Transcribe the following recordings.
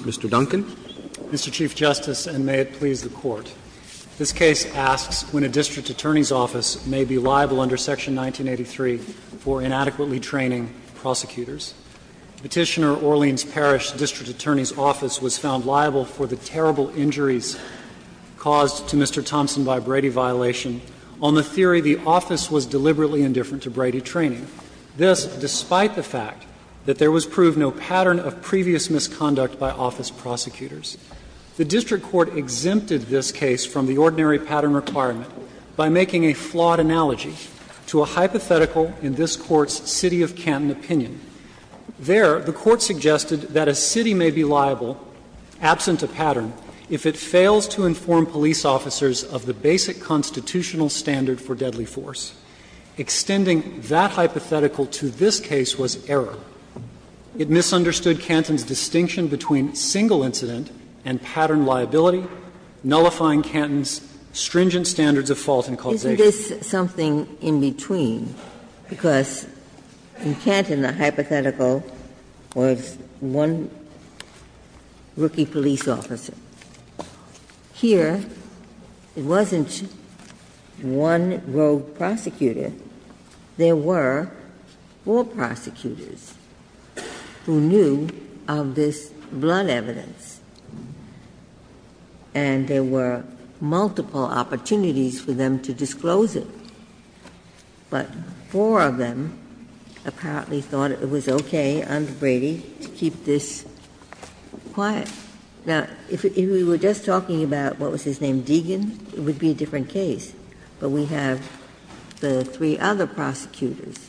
Mr. Duncan. Mr. Chief Justice, and may it please the Court, this case asks when a district attorney's office may be liable under Section 1983 for inadequately training prosecutors. Petitioner Orleans Parish District Attorney's Office was found liable for the terrible injuries of Mr. Thompson by Brady violation on the theory the office was deliberately indifferent to Brady training, this despite the fact that there was proved no pattern of previous misconduct by office prosecutors. The district court exempted this case from the ordinary pattern requirement by making a flawed analogy to a hypothetical in this Court's City of Canton opinion. There, the Court suggested that a city may be liable, absent a pattern, if it fails to inform police officers of the basic constitutional standard for deadly force. Extending that hypothetical to this case was error. It misunderstood Canton's distinction between single incident and pattern liability, nullifying Canton's stringent standards of fault and causation. Ginsburg's something in between, because in Canton, the hypothetical was one rookie police officer. Here, it wasn't one rogue prosecutor. There were four prosecutors who knew of this blood evidence, and there were multiple opportunities for them to disclose it. But four of them apparently thought it was okay under Brady to keep this quiet. Now, if we were just talking about what was his name, Deegan, it would be a different case, but we have the three other prosecutors,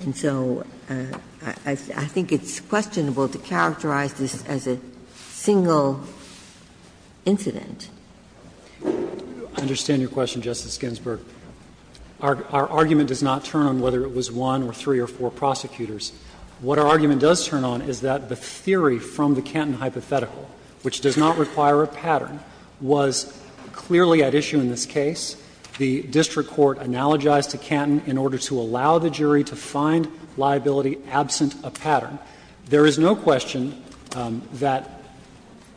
and so I think it's questionable to characterize this as a single incident. I understand your question, Justice Ginsburg. Our argument does not turn on whether it was one or three or four prosecutors. What our argument does turn on is that the theory from the Canton hypothetical, which does not require a pattern, was clearly at issue in this case. The district court analogized to Canton in order to allow the jury to find liability absent a pattern. There is no question that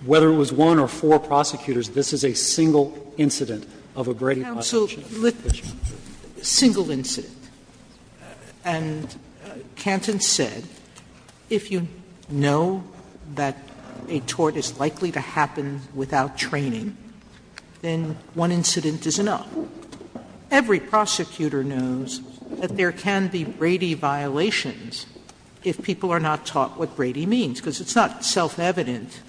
whether it was one or four prosecutors, this is a single incident of a Brady prosecution. Sotomayor, a single incident. And Canton said, if you know that a tort is likely to happen without training, then one incident is enough. Every prosecutor knows that there can be Brady violations if people are not taught what Brady means, because it's not self-evident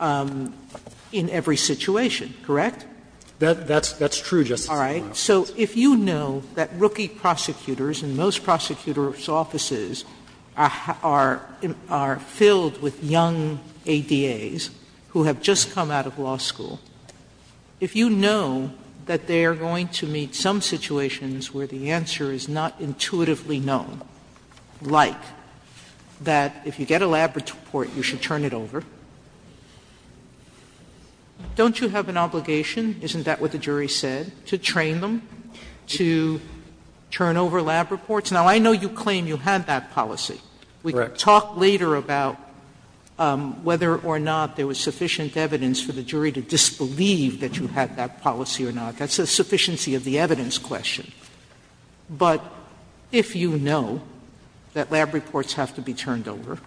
in every situation, correct? That's true, Justice Sotomayor. All right. So if you know that rookie prosecutors in most prosecutors' offices are filled with young ADAs who have just come out of law school, if you know that they are going to meet some situations where the answer is not intuitively known, like that if you get a lab report, you should turn it over, don't you have an obligation, isn't that what the jury said, to train them to turn over lab reports? Now, I know you claim you had that policy. We can talk later about whether or not there was sufficient evidence for the jury to disbelieve that you had that policy or not. That's a sufficiency of the evidence question. But if you know that lab reports have to be turned over,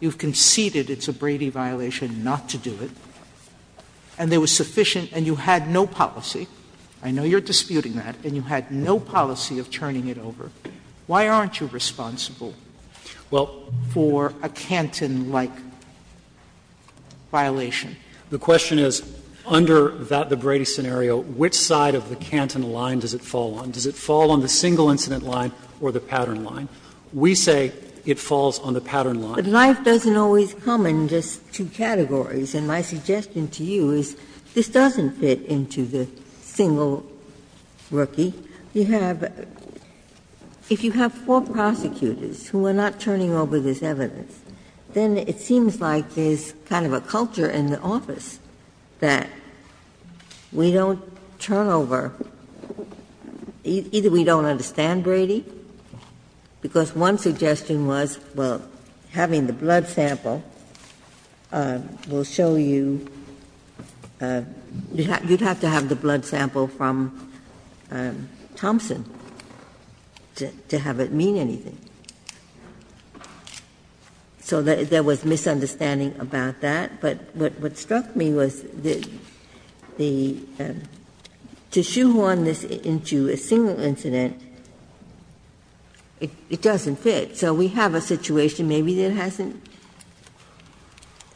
you've conceded it's a Brady violation not to do it, and there was sufficient and you had no policy, I know you're disputing that, and you had no policy of turning it over, why aren't you responsible for a Canton-like violation? The question is, under that, the Brady scenario, which side of the Canton line does it fall on? Does it fall on the single incident line or the pattern line? We say it falls on the pattern line. Ginsburg. But life doesn't always come in just two categories, and my suggestion to you is this doesn't fit into the single rookie. You have to have four prosecutors who are not turning over this evidence, then it seems like there's kind of a culture in the office that we don't turn over. Either we don't understand Brady, because one suggestion was, well, having the blood sample will show you, you'd have to have the blood sample from Thompson to have it mean anything. So there was misunderstanding about that, but what struck me was that the to shoehorn this into a single incident, it doesn't fit. So we have a situation maybe that hasn't,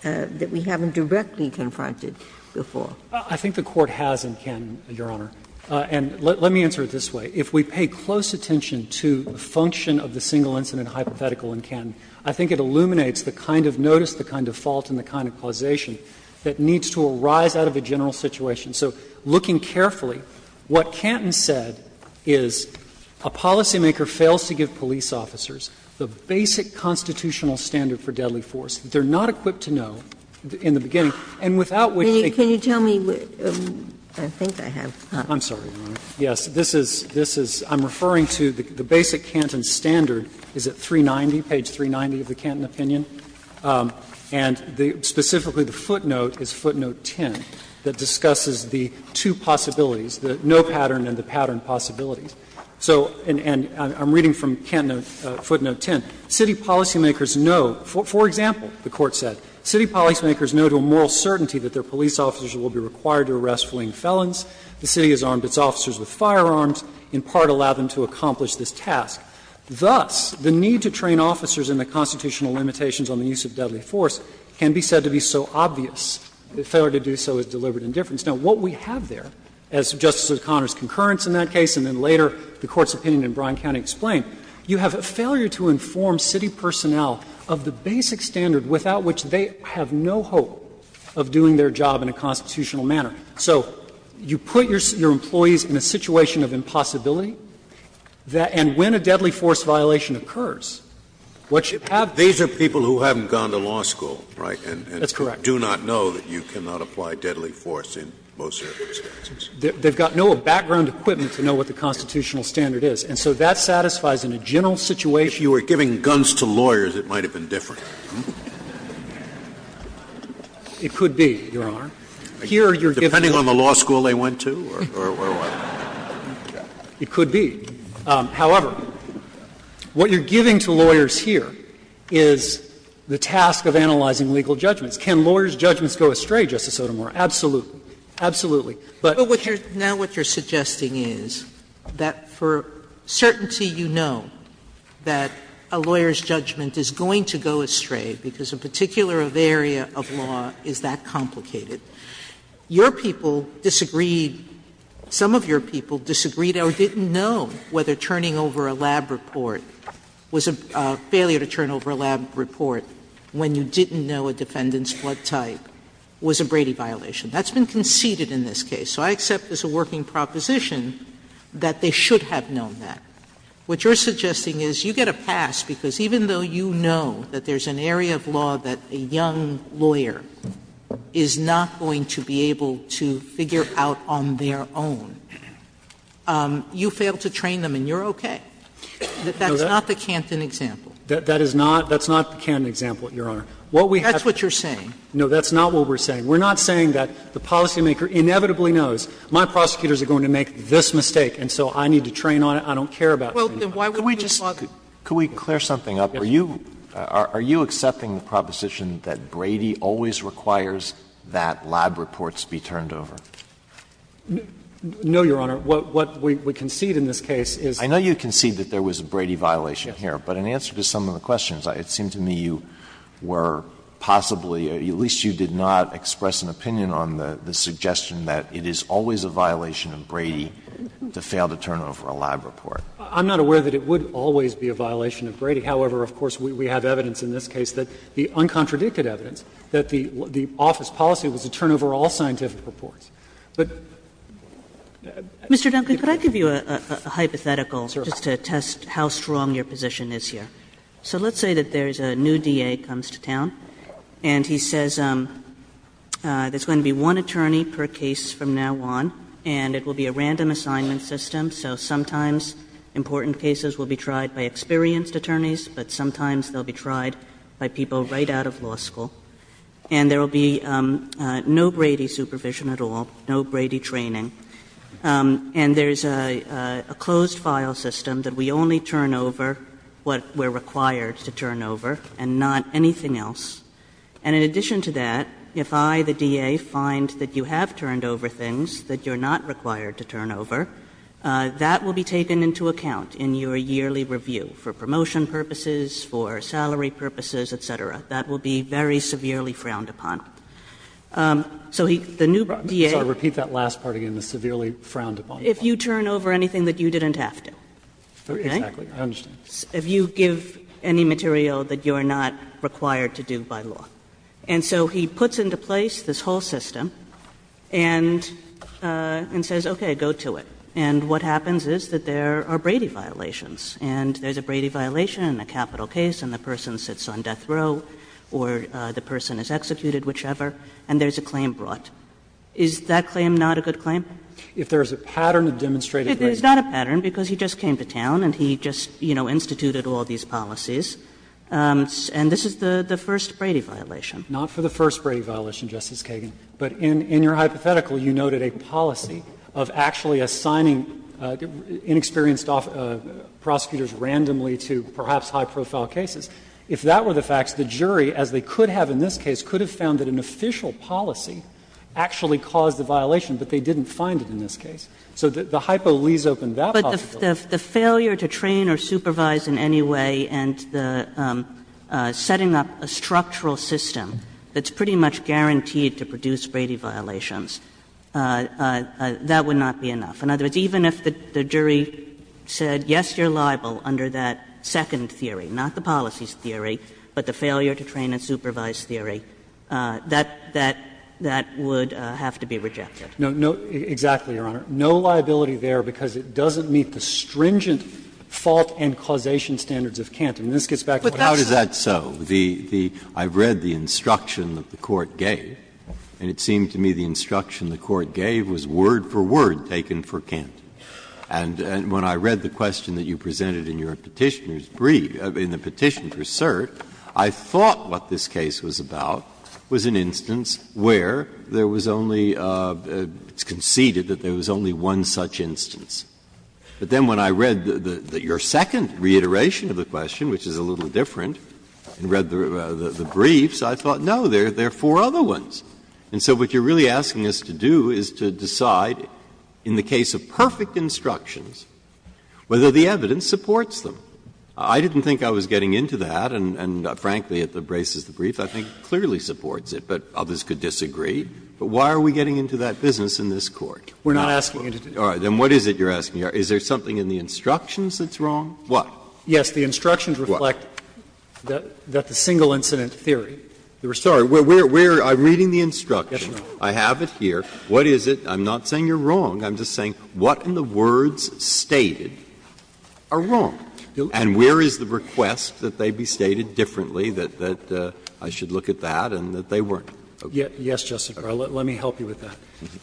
that we haven't directly confronted before. I think the Court has in Canton, Your Honor, and let me answer it this way. If we pay close attention to the function of the single incident hypothetical in Canton, I think it illuminates the kind of notice, the kind of fault and the kind of causation that needs to arise out of a general situation. So looking carefully, what Canton said is a policymaker fails to give police officers the basic constitutional standard for deadly force. They're not equipped to know in the beginning, and without which they can't. Ginsburg. Can you tell me, I think I have. I'm sorry, Your Honor. Yes. This is, this is, I'm referring to the basic Canton standard, is it 390, page 390 of the Canton opinion? And specifically the footnote is footnote 10, that discusses the two possibilities, the no pattern and the pattern possibilities. So, and I'm reading from footnote 10. City policymakers know, for example, the Court said, city policymakers know to a moral certainty that their police officers will be required to arrest fleeing felons. The city has armed its officers with firearms, in part allowed them to accomplish this task. Thus, the need to train officers in the constitutional limitations on the use of deadly force can be said to be so obvious, the failure to do so is deliberate indifference. Now, what we have there, as Justice O'Connor's concurrence in that case, and then later the Court's opinion in Bryan County explained, you have a failure to inform city personnel of the basic standard without which they have no hope of doing their job in a constitutional manner. So you put your employees in a situation of impossibility, and when a deadly force violation occurs, what you have there is a situation where they have no hope of doing their job in a constitutional manner. Scalia. These are people who haven't gone to law school, right, and do not know that you cannot apply deadly force in most circumstances. They've got no background equipment to know what the constitutional standard is, and so that satisfies in a general situation. If you were giving guns to lawyers, it might have been different. It could be, Your Honor. Here, you're giving them. Depending on the law school they went to or what? It could be. However, what you're giving to lawyers here is the task of analyzing legal judgments. Can lawyers' judgments go astray, Justice Sotomayor? Absolutely. Absolutely. Sotomayor, I think that a lawyer's judgment is going to go astray, because a particular area of law is that complicated. Your people disagreed, some of your people disagreed or didn't know whether turning over a lab report was a failure to turn over a lab report when you didn't know a defendant's blood type was a Brady violation. That's been conceded in this case. So I accept as a working proposition that they should have known that. What you're suggesting is you get a pass because even though you know that there's an area of law that a young lawyer is not going to be able to figure out on their own, you fail to train them and you're okay. That's not the Canton example. That is not the Canton example, Your Honor. That's what you're saying. No, that's not what we're saying. We're not saying that the policymaker inevitably knows my prosecutors are going to make this mistake and so I need to train on it. I don't care about it. Sotomayor, could we just clear something up? Are you accepting the proposition that Brady always requires that lab reports be turned over? No, Your Honor. What we concede in this case is that there was a Brady violation here. But in answer to some of the questions, it seemed to me you were possibly, at least I'm not aware that it would always be a violation of Brady. However, of course, we have evidence in this case that the uncontradicted evidence, that the office policy was to turn over all scientific reports. But I think that's what we're saying. Mr. Duncan, could I give you a hypothetical just to test how strong your position is here? So let's say that there's a new DA comes to town and he says there's going to be one that will be a random assignment system, so sometimes important cases will be tried by experienced attorneys, but sometimes they'll be tried by people right out of law school. And there will be no Brady supervision at all, no Brady training. And there's a closed file system that we only turn over what we're required to turn over and not anything else. And in addition to that, if I, the DA, find that you have turned over things that you're not required to turn over, that will be taken into account in your yearly review for promotion purposes, for salary purposes, et cetera. That will be very severely frowned upon. So he, the new DA. Sorry, repeat that last part again, the severely frowned upon. If you turn over anything that you didn't have to. Exactly. I understand. If you give any material that you're not required to do by law. And so he puts into place this whole system and says, okay, go to it. And what happens is that there are Brady violations, and there's a Brady violation in a capital case and the person sits on death row or the person is executed, whichever, and there's a claim brought. Is that claim not a good claim? If there's a pattern of demonstrated Brady. It's not a pattern because he just came to town and he just, you know, instituted all these policies. And this is the first Brady violation. Not for the first Brady violation, Justice Kagan. But in your hypothetical, you noted a policy of actually assigning inexperienced prosecutors randomly to perhaps high-profile cases. If that were the facts, the jury, as they could have in this case, could have found that an official policy actually caused the violation, but they didn't find it in this case. So the hypo leaves open that possibility. Kagan. If the failure to train or supervise in any way and the setting up a structural system that's pretty much guaranteed to produce Brady violations, that would not be enough. In other words, even if the jury said yes, you're liable under that second theory, not the policies theory, but the failure to train and supervise theory, that would have to be rejected. No, no, exactly, Your Honor. No liability there because it doesn't meet the stringent fault and causation standards of Canton. And this gets back to what I said. Breyer, but how is that so? The, the, I read the instruction that the court gave, and it seemed to me the instruction the court gave was word for word taken for Canton. And when I read the question that you presented in your Petitioner's brief, in the Petition for Cert, I thought what this case was about was an instance where there was only, it's conceded that there was only one such instance. But then when I read the, the, your second reiteration of the question, which is a little different, and read the, the briefs, I thought, no, there are four other ones. And so what you're really asking us to do is to decide, in the case of perfect instructions, whether the evidence supports them. I didn't think I was getting into that, and, and frankly, it embraces the brief. I think it clearly supports it, but others could disagree. But why are we getting into that business in this Court? We're not asking you to do that. Breyer, then what is it you're asking? Is there something in the instructions that's wrong? What? Yes, the instructions reflect that, that the single incident theory. We're sorry, we're, we're, I'm reading the instruction. Yes, Your Honor. I have it here. What is it? I'm not saying you're wrong. I'm just saying what in the words stated are wrong? And where is the request that they be stated differently, that, that I should look at that, and that they weren't? Yes, Justice Breyer, let, let me help you with that.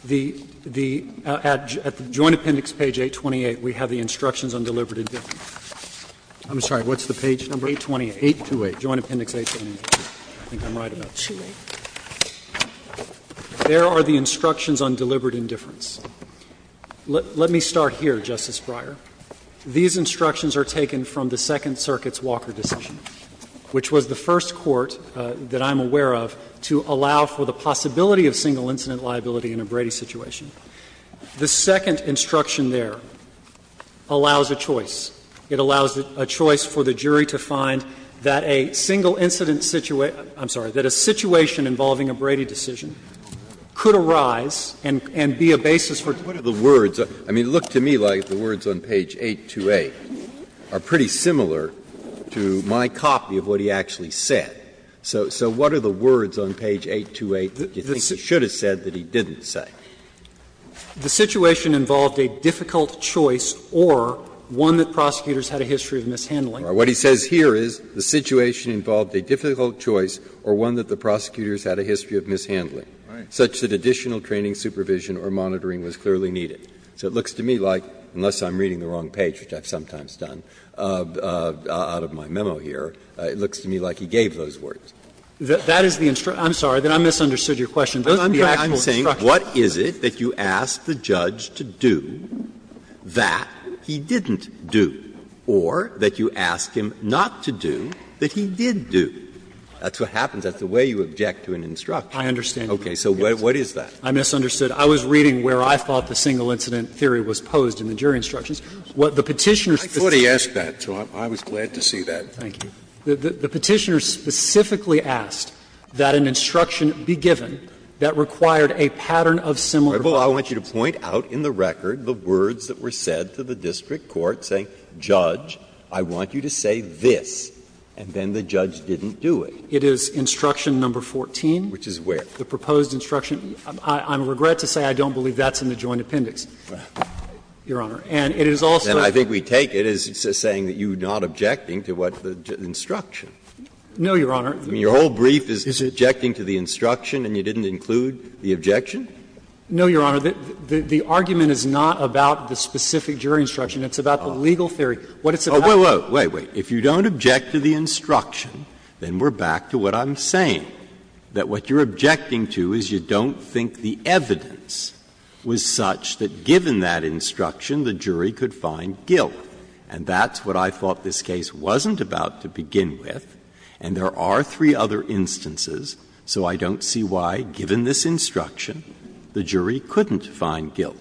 The, the, at, at the Joint Appendix, page 828, we have the instructions on deliberate indifference. I'm sorry, what's the page number? 828. 828. Joint Appendix 828. I think I'm right about that. There are the instructions on deliberate indifference. Let, let me start here, Justice Breyer. These instructions are taken from the Second Circuit's Walker decision, which was the first court that I'm aware of to allow for the possibility of single incident liability in a Brady situation. The second instruction there allows a choice. It allows a choice for the jury to find that a single incident situation, I'm sorry, that a situation involving a Brady decision could arise and, and be a basis for. What are the words? I mean, look to me like the words on page 828 are pretty similar to my copy of what he actually said. So, so what are the words on page 828 that you think he should have said that he didn't say? The situation involved a difficult choice or one that prosecutors had a history of mishandling. What he says here is the situation involved a difficult choice or one that the prosecutors had a history of mishandling, such that additional training, supervision, or monitoring was clearly needed. So it looks to me like, unless I'm reading the wrong page, which I've sometimes done out of my memo here, it looks to me like he gave those words. That is the instruction. I'm sorry. I misunderstood your question. Those are the actual instructions. Breyer. I'm saying what is it that you ask the judge to do that he didn't do, or that you ask him not to do that he did do? That's what happens. That's the way you object to an instruction. I understand. Okay. So what is that? I misunderstood. I was reading where I thought the single incident theory was posed in the jury instructions. What the Petitioner specifically asked. I thought he asked that, so I was glad to see that. Thank you. The Petitioner specifically asked that an instruction be given that required a pattern of similar practice. Well, I want you to point out in the record the words that were said to the district court saying, judge, I want you to say this, and then the judge didn't do it. It is instruction number 14. Which is where? The proposed instruction. I regret to say I don't believe that's in the joint appendix, Your Honor. And it is also. And I think we take it as saying that you are not objecting to what the instruction. No, Your Honor. I mean, your whole brief is objecting to the instruction and you didn't include the objection? No, Your Honor. The argument is not about the specific jury instruction. It's about the legal theory. What it's about is. Wait, wait. If you don't object to the instruction, then we're back to what I'm saying, that what you're objecting to is you don't think the evidence was such that given that instruction, the jury could find guilt. And that's what I thought this case wasn't about to begin with, and there are three other instances, so I don't see why, given this instruction, the jury couldn't find guilt.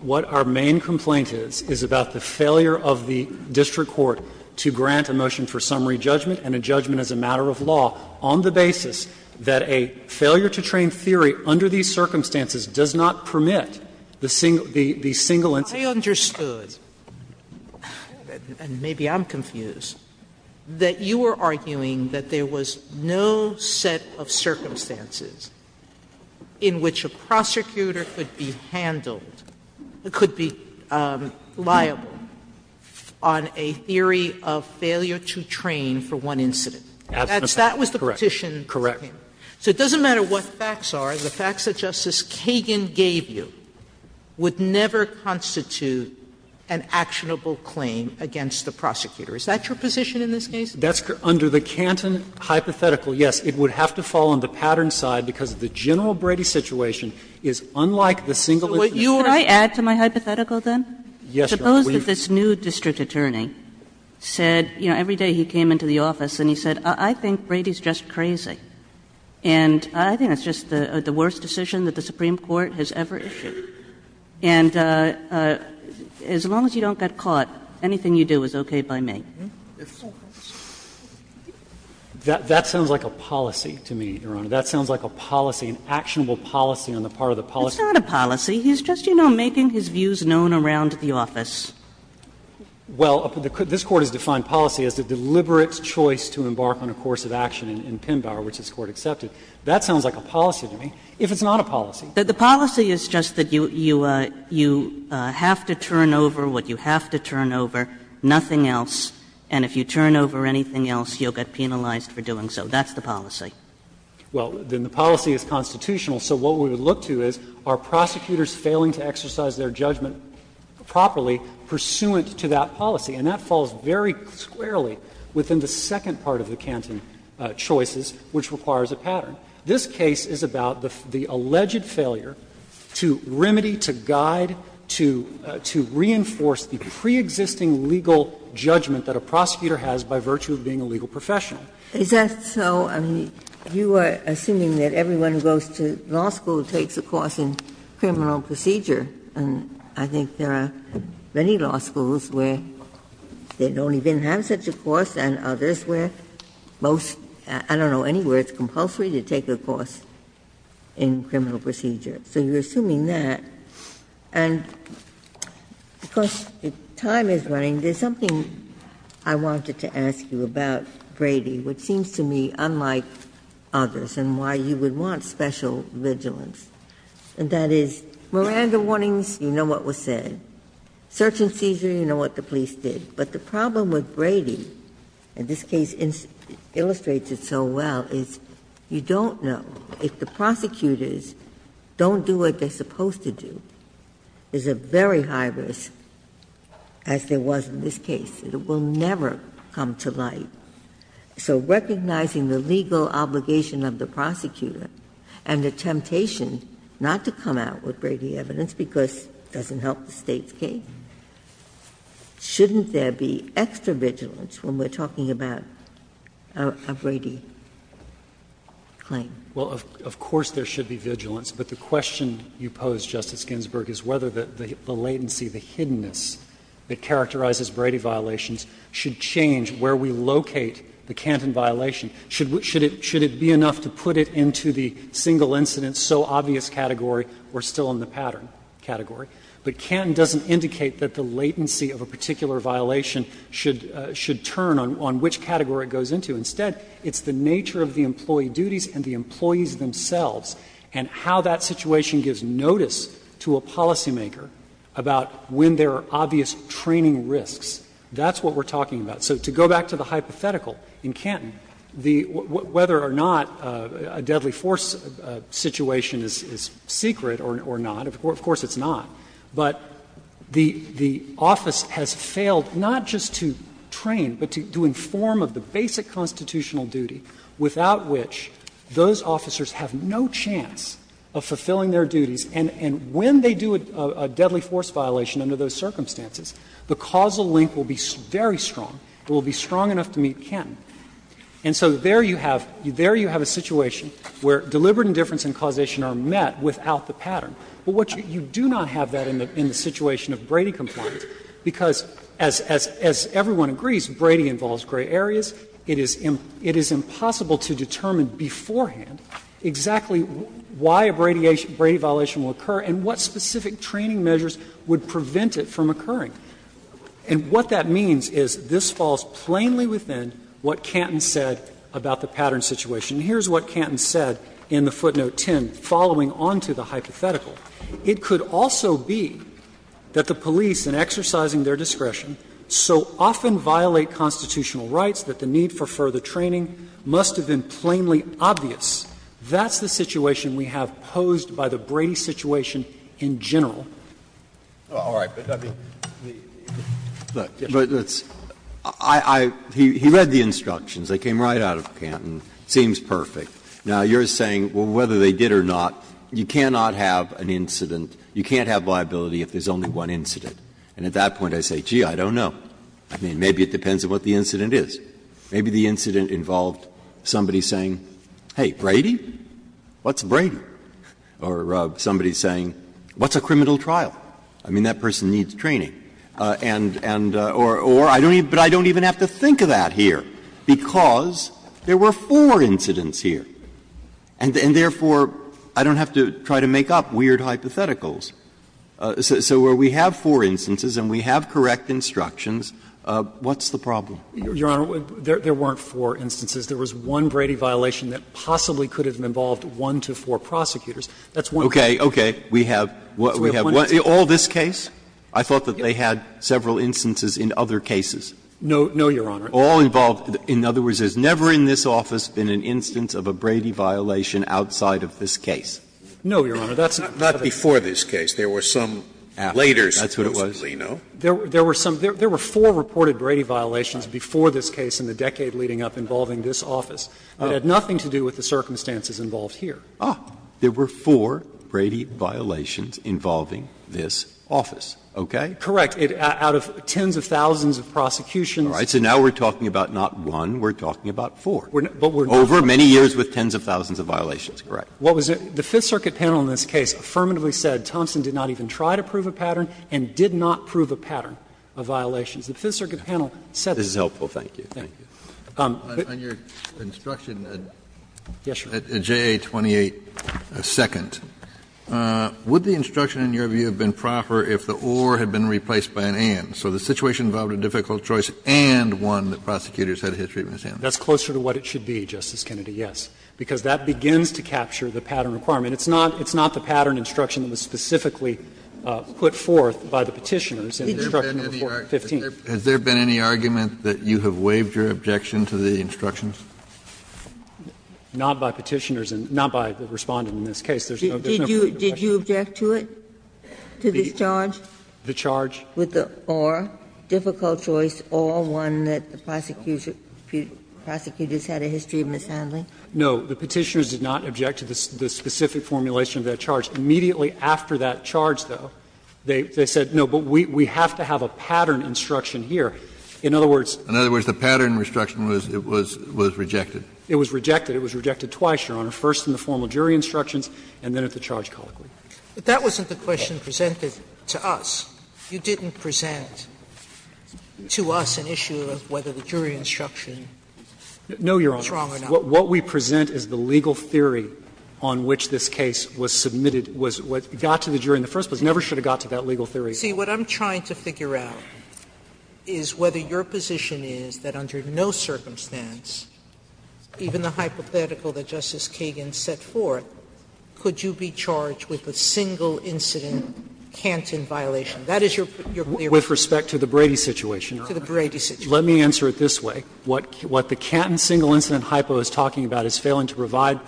What our main complaint is, is about the failure of the district court to grant a motion for summary judgment and a judgment as a matter of law on the basis that a failure-to-train theory under these circumstances does not permit the single incident. Sotomayor, I understood, and maybe I'm confused, that you were arguing that there was no set of circumstances in which a prosecutor could be handled, could be liable on a theory of failure-to-train for one incident. That was the petition. Correct. Correct. So it doesn't matter what the facts are. The facts that Justice Kagan gave you would never constitute an actionable claim against the prosecutor. Is that your position in this case? That's correct. Under the Canton hypothetical, yes, it would have to fall on the Pattern side because the general Brady situation is unlike the single incident. So what you are saying is that the district attorney said, you know, every day he came into the office and he said, I think Brady's just crazy, and I think that's just the worst decision that the Supreme Court has ever issued, and as long as you don't get caught, anything you do is okay by me. That sounds like a policy to me, Your Honor. That sounds like a policy, an actionable policy on the part of the policy. It's not a policy. He's just, you know, making his views known around the office. Well, this Court has defined policy as the deliberate choice to embark on a course of action in Pembauer, which this Court accepted. That sounds like a policy to me, if it's not a policy. The policy is just that you have to turn over what you have to turn over, nothing else, and if you turn over anything else, you'll get penalized for doing so. That's the policy. Well, then the policy is constitutional. So what we would look to is, are prosecutors failing to exercise their judgment properly pursuant to that policy? And that falls very squarely within the second part of the Canton choices, which requires a pattern. This case is about the alleged failure to remedy, to guide, to reinforce the preexisting legal judgment that a prosecutor has by virtue of being a legal professional. Is that so? I mean, you are assuming that everyone who goes to law school takes a course in criminal procedure, and I think there are many law schools where they don't even have such a course, and others where most, I don't know, anywhere it's compulsory to take a course in criminal procedure. So you're assuming that. And because time is running, there's something I wanted to ask you about, Brady, which seems to me unlike others, and why you would want special vigilance. And that is, Miranda warnings, you know what was said. Search and seizure, you know what the police did. But the problem with Brady, and this case illustrates it so well, is you don't know. If the prosecutors don't do what they're supposed to do, there's a very high risk, as there was in this case. It will never come to light. So recognizing the legal obligation of the prosecutor and the temptation not to come out with Brady evidence, because it doesn't help the State's case, shouldn't there be extra vigilance when we're talking about a Brady claim? Well, of course there should be vigilance. But the question you pose, Justice Ginsburg, is whether the latency, the hiddenness that characterizes Brady violations should change where we locate the Canton violation. Should it be enough to put it into the single incident, so obvious category, we're still in the pattern category. But Canton doesn't indicate that the latency of a particular violation should turn on which category it goes into. Instead, it's the nature of the employee duties and the employees themselves, and how that situation gives notice to a policymaker about when there are obvious training risks. That's what we're talking about. So to go back to the hypothetical in Canton, whether or not a deadly force situation is secret or not, of course it's not. But the office has failed not just to train, but to inform of the basic constitutional duty without which those officers have no chance of fulfilling their duties. And when they do a deadly force violation under those circumstances, the causal link will be very strong. It will be strong enough to meet Canton. And so there you have a situation where deliberate indifference and causation are met without the pattern. But what you do not have that in the situation of Brady compliance, because as everyone agrees, Brady involves gray areas. It is impossible to determine beforehand exactly why a Brady violation will occur and what specific training measures would prevent it from occurring. And what that means is this falls plainly within what Canton said about the pattern situation. Here's what Canton said in the footnote 10, following on to the hypothetical. It could also be that the police, in exercising their discretion, so often violate constitutional rights that the need for further training must have been plainly obvious. That's the situation we have posed by the Brady situation in general. Breyer. But I mean, look, let's – I – he read the instructions. They came right out of Canton. It seems perfect. Now, you're saying, well, whether they did or not, you cannot have an incident – you can't have liability if there's only one incident. And at that point, I say, gee, I don't know. I mean, maybe it depends on what the incident is. Maybe the incident involved somebody saying, hey, Brady, what's Brady? Or somebody saying, what's a criminal trial? I mean, that person needs training. And – or I don't even – but I don't even have to think of that here, because there were four incidents here. And therefore, I don't have to try to make up weird hypotheticals. So where we have four instances and we have correct instructions, what's the problem? Your Honor, there weren't four instances. There was one Brady violation that possibly could have involved one to four prosecutors. That's one. Okay. Okay. We have – we have all this case? I thought that they had several instances in other cases. No, Your Honor. All involved – in other words, there's never in this office been an instance of a Brady violation outside of this case. No, Your Honor. That's not the case. Not before this case. There were some later cases. That's what it was. There were some – there were four reported Brady violations before this case in the decade leading up involving this office. It had nothing to do with the circumstances involved here. Ah, there were four Brady violations involving this office, okay? Correct. Out of tens of thousands of prosecutions. All right. So now we're talking about not one, we're talking about four. Over many years with tens of thousands of violations, correct. What was it? The Fifth Circuit panel in this case affirmatively said Thompson did not even try to prove a pattern and did not prove a pattern of violations. The Fifth Circuit panel said that. This is helpful. Thank you. Thank you. On your instruction at JA 28-2, would the instruction in your view have been proper if the or had been replaced by an and? So the situation involved a difficult choice and one that prosecutors had a history of misunderstanding. That's closer to what it should be, Justice Kennedy, yes, because that begins to capture the pattern requirement. It's not the pattern instruction that was specifically put forth by the Petitioners in Instruction No. 15. Has there been any argument that you have waived your objection to the instructions? Not by Petitioners and not by the Respondent in this case. There's no particular question. Did you object to it, to this charge? The charge? With the or, difficult choice or one that the prosecutors had a history of mishandling? No. The Petitioners did not object to the specific formulation of that charge. Immediately after that charge, though, they said, no, but we have to have a pattern instruction here. In other words. In other words, the pattern instruction was rejected. It was rejected. It was rejected twice, Your Honor, first in the formal jury instructions and then at the charge colloquy. But that wasn't the question presented to us. You didn't present to us an issue of whether the jury instruction was wrong or not. No, Your Honor. What we present is the legal theory on which this case was submitted, was what got to the jury in the first place. It never should have got to that legal theory. See, what I'm trying to figure out is whether your position is that under no circumstance, even the hypothetical that Justice Kagan set forth, could you be charged with a single incident Canton violation. That is your clear position. With respect to the Brady situation, Your Honor. To the Brady situation. Let me answer it this way. What the Canton single incident hypo is talking about is failing to provide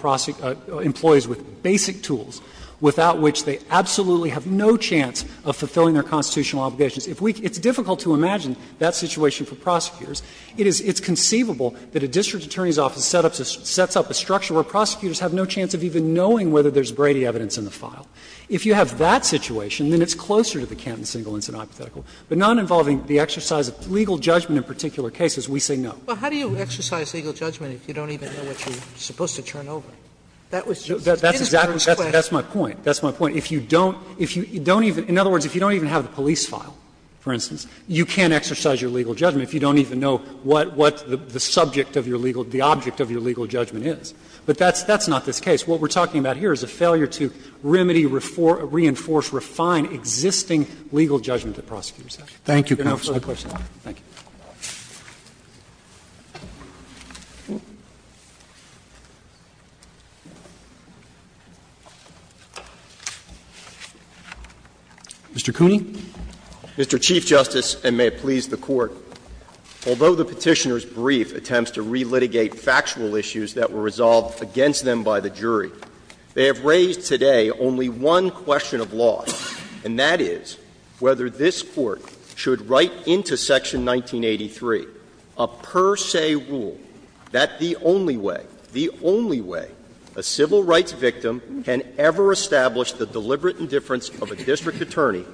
employees with basic tools without which they absolutely have no chance of fulfilling their constitutional obligations. It's difficult to imagine that situation for prosecutors. It's conceivable that a district attorney's office sets up a structure where prosecutors have no chance of even knowing whether there's Brady evidence in the file. If you have that situation, then it's closer to the Canton single incident hypothetical. But not involving the exercise of legal judgment in particular cases, we say no. Sotomayor, but how do you exercise legal judgment if you don't even know what you're supposed to turn over? That was just an instance question. That's my point. That's my point. If you don't, if you don't even, in other words, if you don't even have the police file, for instance, you can't exercise your legal judgment if you don't even know what the subject of your legal, the object of your legal judgment is. But that's not this case. What we're talking about here is a failure to remedy, reinforce, refine existing legal judgment that prosecutors have. Thank you, counsel. Roberts. Thank you. Mr. Cooney. Mr. Chief Justice, and may it please the Court. Although the Petitioner's brief attempts to relitigate factual issues that were resolved against them by the jury, they have raised today only one question of law, and that is whether this Court should write into Section 1983 a per se rule that the only way, the only way a civil rights victim can ever establish the deliberate indifference of a district attorney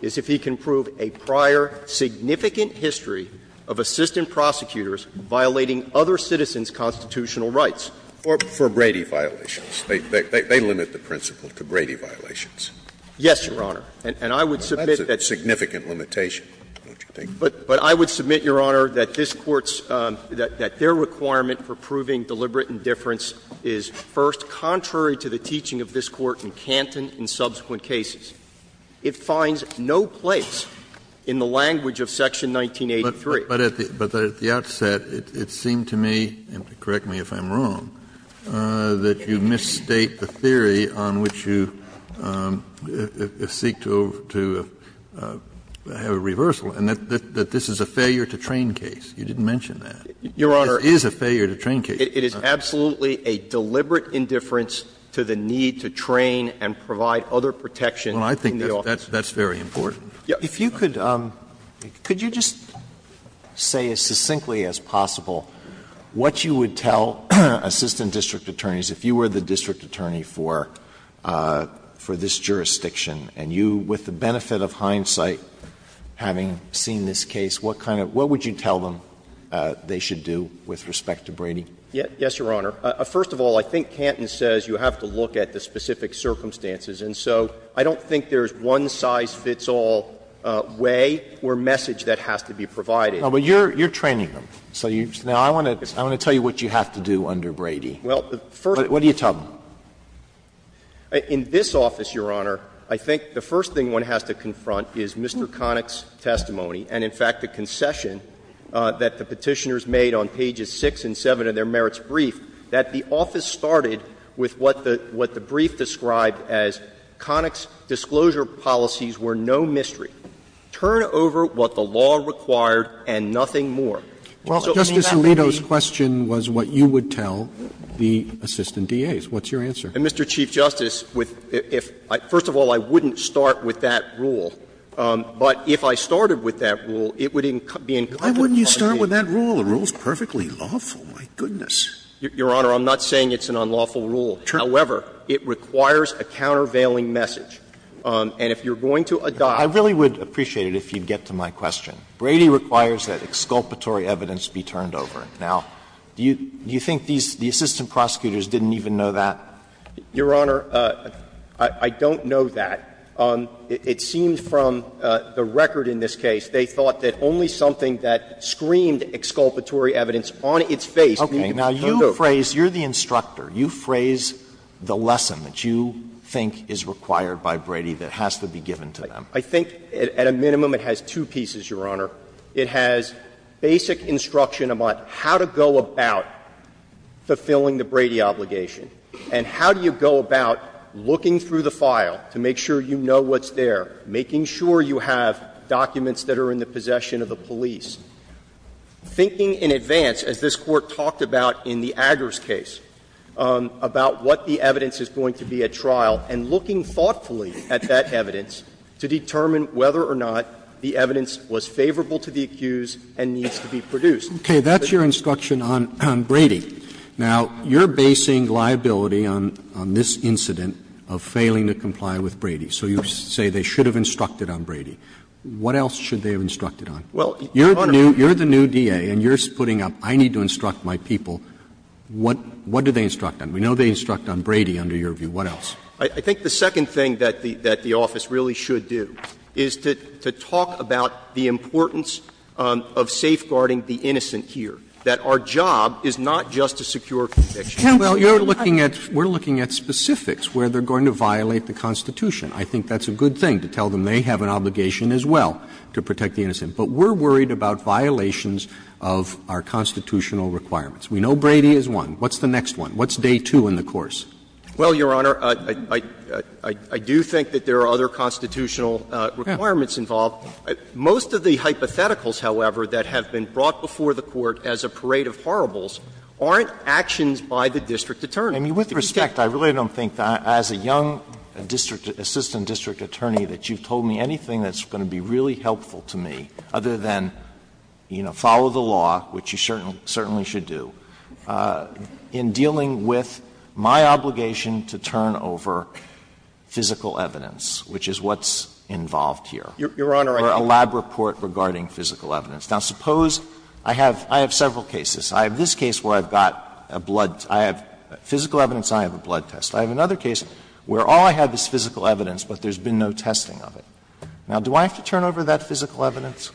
is if he can prove a prior significant history of assistant prosecutors violating other citizens' constitutional rights. For Brady violations. They limit the principle to Brady violations. Yes, Your Honor. And I would submit that's a significant limitation, don't you think? But I would submit, Your Honor, that this Court's, that their requirement for proving deliberate indifference is, first, contrary to the teaching of this Court in Canton and subsequent cases. It finds no place in the language of Section 1983. But at the outset, it seemed to me, and correct me if I'm wrong, that you misstate the theory on which you seek to have a reversal, and that this is a failure-to-train case. You didn't mention that. Your Honor. It is a failure-to-train case. It is absolutely a deliberate indifference to the need to train and provide other protection in the office. Well, I think that's very important. If you could, could you just say as succinctly as possible what you would tell assistant district attorneys, if you were the district attorney for this jurisdiction and you, with the benefit of hindsight, having seen this case, what kind of, what would you tell them they should do with respect to Brady? Yes, Your Honor. First of all, I think Canton says you have to look at the specific circumstances. And so I don't think there's one size fits all way or message that has to be provided. No, but you're training them. So now I want to tell you what you have to do under Brady. What do you tell them? In this office, Your Honor, I think the first thing one has to confront is Mr. Connick's testimony and, in fact, the concession that the Petitioners made on pages 6 and 7 of their merits brief, that the office started with what the brief described as Connick's disclosure policies were no mystery. Turn over what the law required and nothing more. Justice Alito's question was what you would tell the assistant DAs. What's your answer? Mr. Chief Justice, with the – first of all, I wouldn't start with that rule. But if I started with that rule, it would be incumbent upon the DA. Why wouldn't you start with that rule? The rule is perfectly lawful, my goodness. Your Honor, I'm not saying it's an unlawful rule. However, it requires a countervailing message. And if you're going to adopt. I really would appreciate it if you'd get to my question. Brady requires that exculpatory evidence be turned over. Now, do you think these – the assistant prosecutors didn't even know that? Your Honor, I don't know that. It seems from the record in this case they thought that only something that screamed exculpatory evidence on its face needed to be turned over. Okay. Now, you phrase – you're the instructor. You phrase the lesson that you think is required by Brady that has to be given to them. I think at a minimum it has two pieces, Your Honor. It has basic instruction about how to go about fulfilling the Brady obligation and how do you go about looking through the file to make sure you know what's there, making sure you have documents that are in the possession of the police, thinking in advance, as this Court talked about in the Aggers case, about what the evidence was favorable to the accused and needs to be produced. Okay. That's your instruction on Brady. Now, you're basing liability on this incident of failing to comply with Brady. So you say they should have instructed on Brady. What else should they have instructed on? Well, Your Honor. You're the new DA and you're putting up, I need to instruct my people. What do they instruct on? We know they instruct on Brady under your view. I think the second thing that the office really should do is to say, well, we're going to protect the innocent. And the reason we're doing that is to talk about the importance of safeguarding the innocent here, that our job is not just to secure convictions. Well, you're looking at we're looking at specifics where they're going to violate the Constitution. I think that's a good thing, to tell them they have an obligation as well to protect the innocent. But we're worried about violations of our constitutional requirements. We know Brady is one. What's the next one? We're worried about violations of our constitutional requirements. We're worried about violations of our constitutional requirements. We're worried about violations of our constitutional requirements. Most of the hypotheticals, however, that have been brought before the Court as a parade of horribles aren't actions by the district attorney. I mean, with respect, I really don't think that as a young district assistant district attorney that you've told me anything that's going to be really helpful to me, other than, you know, follow the law, which you certainly should do, in dealing with my obligation to turn over physical evidence, which is what's involved here. Sotomayor, Your Honor, I think you're right. Or a lab report regarding physical evidence. Now, suppose I have several cases. I have this case where I've got a blood – I have physical evidence and I have a blood test. I have another case where all I have is physical evidence, but there's been no testing of it. Now, do I have to turn over that physical evidence?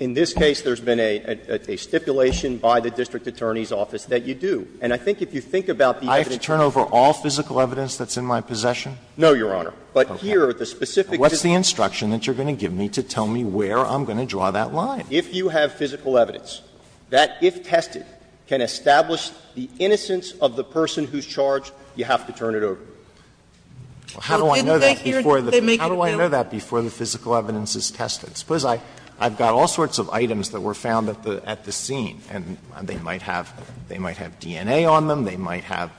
In this case, there's been a stipulation by the district attorney's office that you do. And I think if you think about the evidence. I have to turn over all physical evidence that's in my possession? No, Your Honor. But here, the specific. What's the instruction that you're going to give me to tell me where I'm going to draw that line? If you have physical evidence that, if tested, can establish the innocence of the person who's charged, you have to turn it over. Well, how do I know that before the case? How do I know that before the physical evidence is tested? Suppose I've got all sorts of items that were found at the scene, and they might have DNA on them, they might have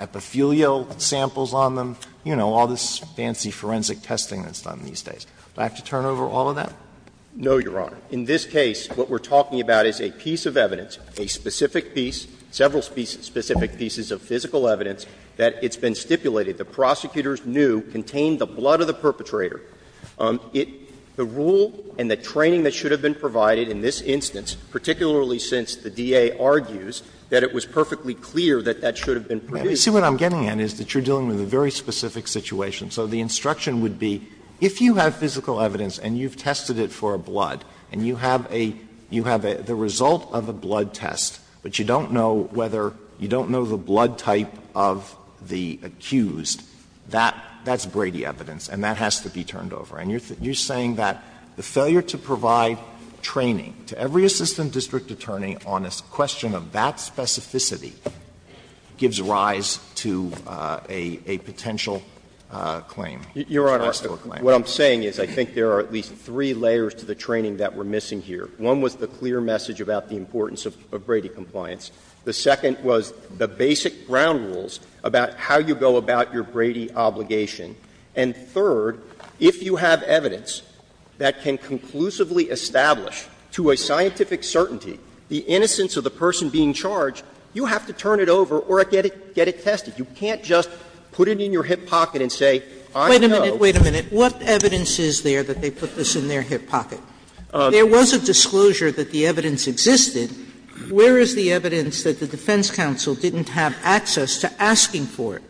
epithelial samples on them, you know, all this fancy forensic testing that's done these days. Do I have to turn over all of that? No, Your Honor. In this case, what we're talking about is a piece of evidence, a specific piece, several specific pieces of physical evidence that it's been stipulated. The prosecutors knew contained the blood of the perpetrator. The rule and the training that should have been provided in this instance, particularly since the DA argues that it was perfectly clear that that should have been produced. See, what I'm getting at is that you're dealing with a very specific situation. So the instruction would be, if you have physical evidence and you've tested it for a blood, and you have a you have the result of a blood test, but you don't know whether you don't know the blood type of the accused, that's Brady evidence, and that has to be turned over. And you're saying that the failure to provide training to every assistant district attorney on a question of that specificity gives rise to a potential claim. You're asking for a claim. What I'm saying is I think there are at least three layers to the training that we're missing here. One was the clear message about the importance of Brady compliance. The second was the basic ground rules about how you go about your Brady obligation. And third, if you have evidence that can conclusively establish to a scientific certainty the innocence of the person being charged, you have to turn it over or get it tested. You can't just put it in your hip pocket and say, I know. Sotomayor, what evidence is there that they put this in their hip pocket? There was a disclosure that the evidence existed. Where is the evidence that the defense counsel didn't have access to asking for it?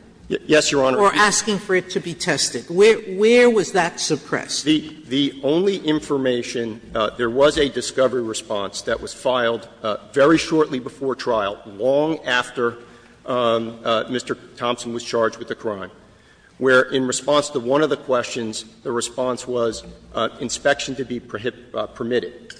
Waxman, or asking for it to be tested? Where was that suppressed? The only information, there was a discovery response that was filed very shortly before trial, long after Mr. Thompson was charged with the crime, where in response to one of the questions, the response was inspection to be permitted.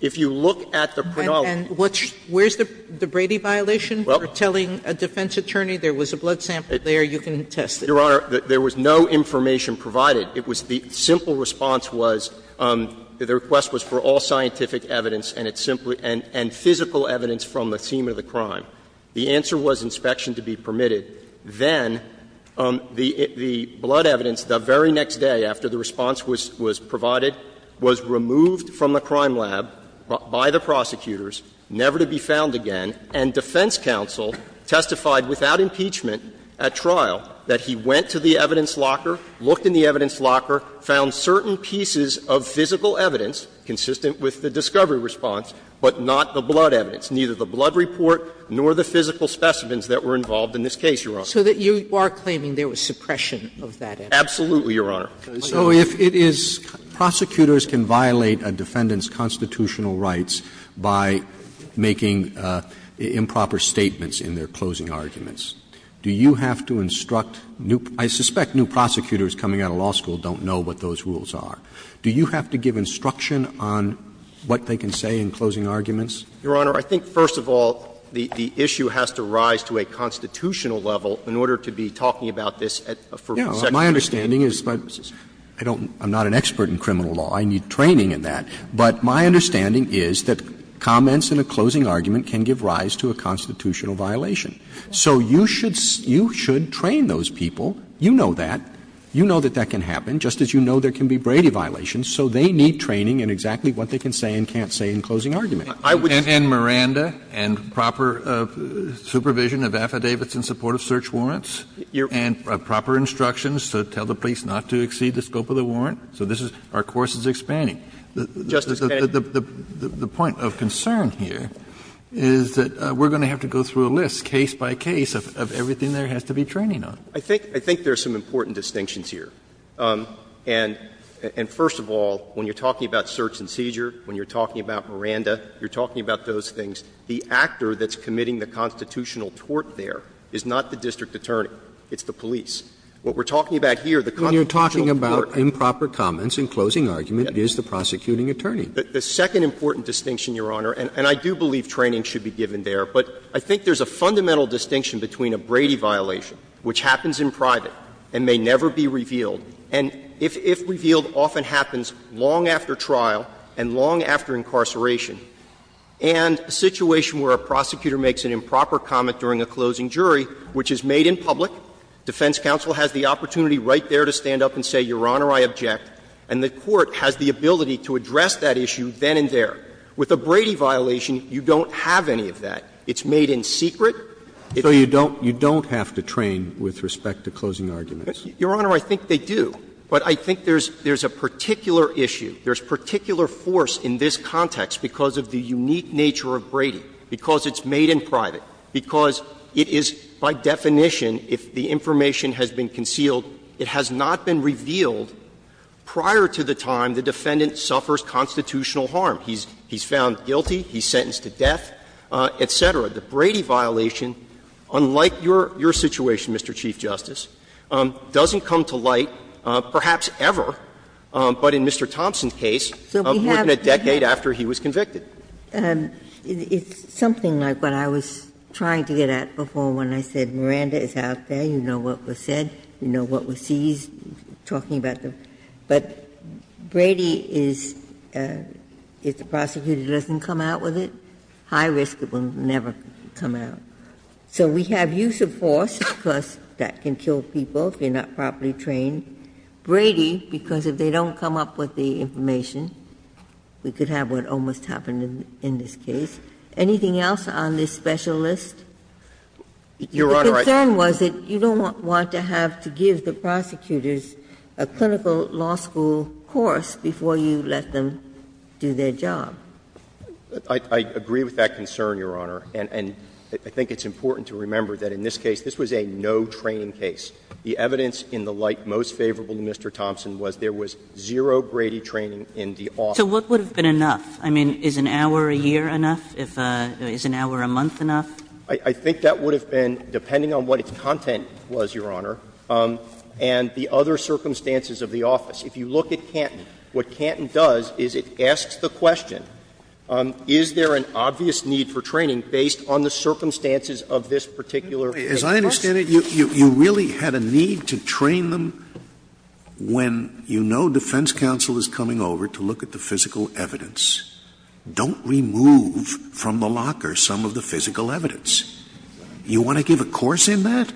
If you look at the chronology. Sotomayor, where is the Brady violation for telling a defense attorney there was a blood sample there, you can test it? Your Honor, there was no information provided. It was the simple response was, the request was for all scientific evidence and it's simply and physical evidence from the scene of the crime. The answer was inspection to be permitted. Then the blood evidence, the very next day after the response was provided, was removed from the crime lab by the prosecutors, never to be found again, and defense counsel testified without impeachment at trial that he went to the evidence locker, looked in the evidence locker, found certain pieces of physical evidence consistent with the discovery response, but not the blood evidence, neither the blood report nor the physical specimens that were involved in this case, Your Honor. So that you are claiming there was suppression of that evidence? Absolutely, Your Honor. So if it is prosecutors can violate a defendant's constitutional rights by making improper statements in their closing arguments, do you have to instruct new – I suspect new prosecutors coming out of law school don't know what those rules are. Do you have to give instruction on what they can say in closing arguments? Your Honor, I think, first of all, the issue has to rise to a constitutional level in order to be talking about this at a first section of the statute. My understanding is, but I don't – I'm not an expert in criminal law. I need training in that. But my understanding is that comments in a closing argument can give rise to a constitutional violation. So you should train those people. You know that. You know that that can happen, just as you know there can be Brady violations. So they need training in exactly what they can say and can't say in closing arguments. I would just say that I would – And Miranda and proper supervision of affidavits in support of search warrants and proper instructions to tell the police not to exceed the scope of the warrant. So this is – our course is expanding. Justice Kennedy. The point of concern here is that we're going to have to go through a list, case by case, of everything there has to be training on. I think there are some important distinctions here. You're talking about Miranda, you're talking about those things. The actor that's committing the constitutional tort there is not the district attorney. It's the police. What we're talking about here, the constitutional tort. When you're talking about improper comments in closing argument, it is the prosecuting attorney. The second important distinction, Your Honor, and I do believe training should be given there, but I think there's a fundamental distinction between a Brady violation, which happens in private and may never be revealed, and if revealed, often happens long after trial and long after incarceration, and a situation where a prosecutor makes an improper comment during a closing jury, which is made in public, defense counsel has the opportunity right there to stand up and say, Your Honor, I object, and the court has the ability to address that issue then and there. With a Brady violation, you don't have any of that. It's made in secret. Roberts. So you don't have to train with respect to closing arguments? Your Honor, I think they do. But I think there's a particular issue, there's particular force in this context because of the unique nature of Brady, because it's made in private, because it is, by definition, if the information has been concealed, it has not been revealed prior to the time the defendant suffers constitutional harm. He's found guilty, he's sentenced to death, et cetera. The Brady violation, unlike your situation, Mr. Chief Justice, doesn't come to light publicly, perhaps ever, but in Mr. Thompson's case, more than a decade after he was convicted. Ginsburg. It's something like what I was trying to get at before when I said Miranda is out there, you know what was said, you know what was seized, talking about the ---- but Brady is the prosecutor that doesn't come out with it, high risk it will never come out. So we have use of force, of course, that can kill people if they're not properly trained. Brady, because if they don't come up with the information, we could have what almost happened in this case. Anything else on this special list? The concern was that you don't want to have to give the prosecutors a clinical law school course before you let them do their job. I agree with that concern, Your Honor. And I think it's important to remember that in this case, this was a no training case. The evidence in the light most favorable to Mr. Thompson was there was zero Brady training in the office. So what would have been enough? I mean, is an hour a year enough? Is an hour a month enough? I think that would have been, depending on what its content was, Your Honor, and the other circumstances of the office. If you look at Canton, what Canton does is it asks the question, is there an obvious need for training based on the circumstances of this particular case? Scalia, as I understand it, you really had a need to train them when you know defense counsel is coming over to look at the physical evidence. Don't remove from the locker some of the physical evidence. You want to give a course in that?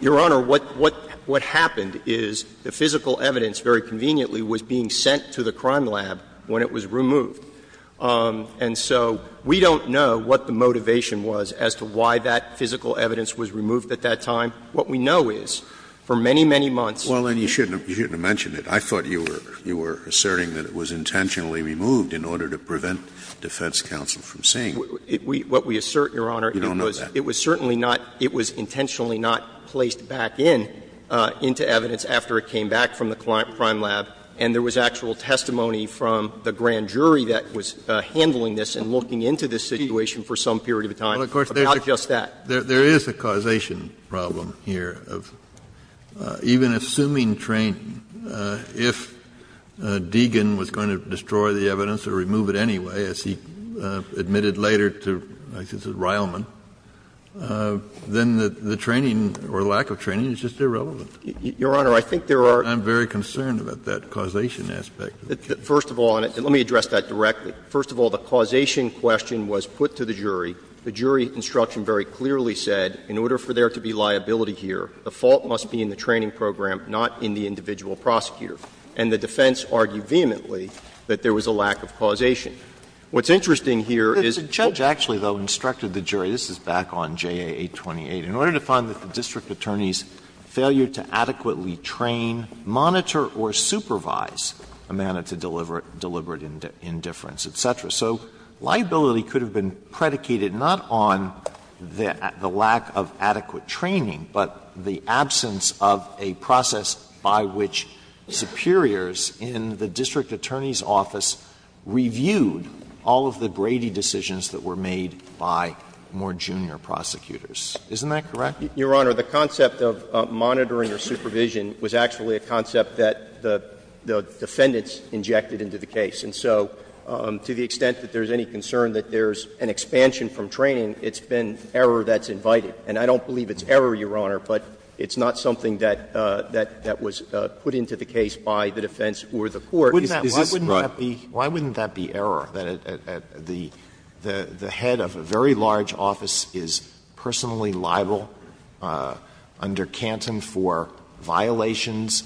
Your Honor, what happened is the physical evidence, very conveniently, was being sent to the crime lab when it was removed. And so we don't know what the motivation was as to why that physical evidence was removed at that time. What we know is for many, many months. Scalia, you shouldn't have mentioned it. I thought you were asserting that it was intentionally removed in order to prevent defense counsel from seeing it. What we assert, Your Honor, it was certainly not, it was intentionally not placed back in, into evidence after it came back from the crime lab, and there was actual testimony from the grand jury that was handling this and looking into this situation for some period of time about just that. There is a causation problem here of even assuming training, if Deegan was going to destroy the evidence or remove it anyway, as he admitted later to Rileman, then the training or lack of training is just irrelevant. Your Honor, I think there are. Kennedy, I'm very concerned about that causation aspect. First of all, and let me address that directly. First of all, the causation question was put to the jury. The jury instruction very clearly said, in order for there to be liability here, the fault must be in the training program, not in the individual prosecutor. And the defense argued vehemently that there was a lack of causation. What's interesting here is. The judge actually, though, instructed the jury, this is back on J.A. 828, in order to find that the district attorney's failure to adequately train, monitor, or supervise a manner to deliver it, deliberate indifference, et cetera. So liability could have been predicated not on the lack of adequate training, but the absence of a process by which superiors in the district attorney's office reviewed all of the Brady decisions that were made by more junior prosecutors. Isn't that correct? Your Honor, the concept of monitoring or supervision was actually a concept that the defendants injected into the case. And so to the extent that there's any concern that there's an expansion from training, it's been error that's invited. And I don't believe it's error, Your Honor, but it's not something that was put into the case by the defense or the court. Isn't this right? Why wouldn't that be error, that the head of a very large office is personally liable under Canton for violations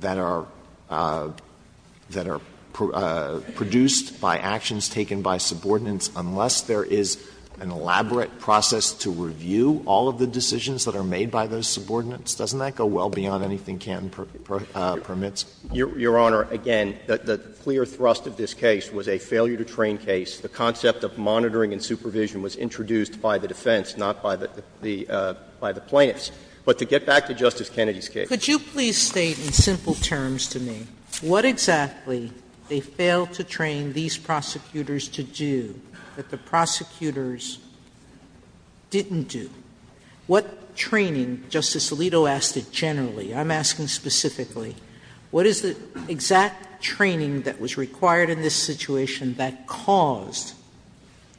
that are produced by actions taken by subordinates unless there is an elaborate process to review all of the decisions that are made by those subordinates? Doesn't that go well beyond anything Canton permits? Your Honor, again, the clear thrust of this case was a failure to train case. The concept of monitoring and supervision was introduced by the defense, not by the plaintiffs. But to get back to Justice Kennedy's case. Sotomayor, could you please state in simple terms to me what exactly they failed to train these prosecutors to do that the prosecutors didn't do? What training, Justice Alito asked it generally, I'm asking specifically, what is the exact training that was required in this situation that caused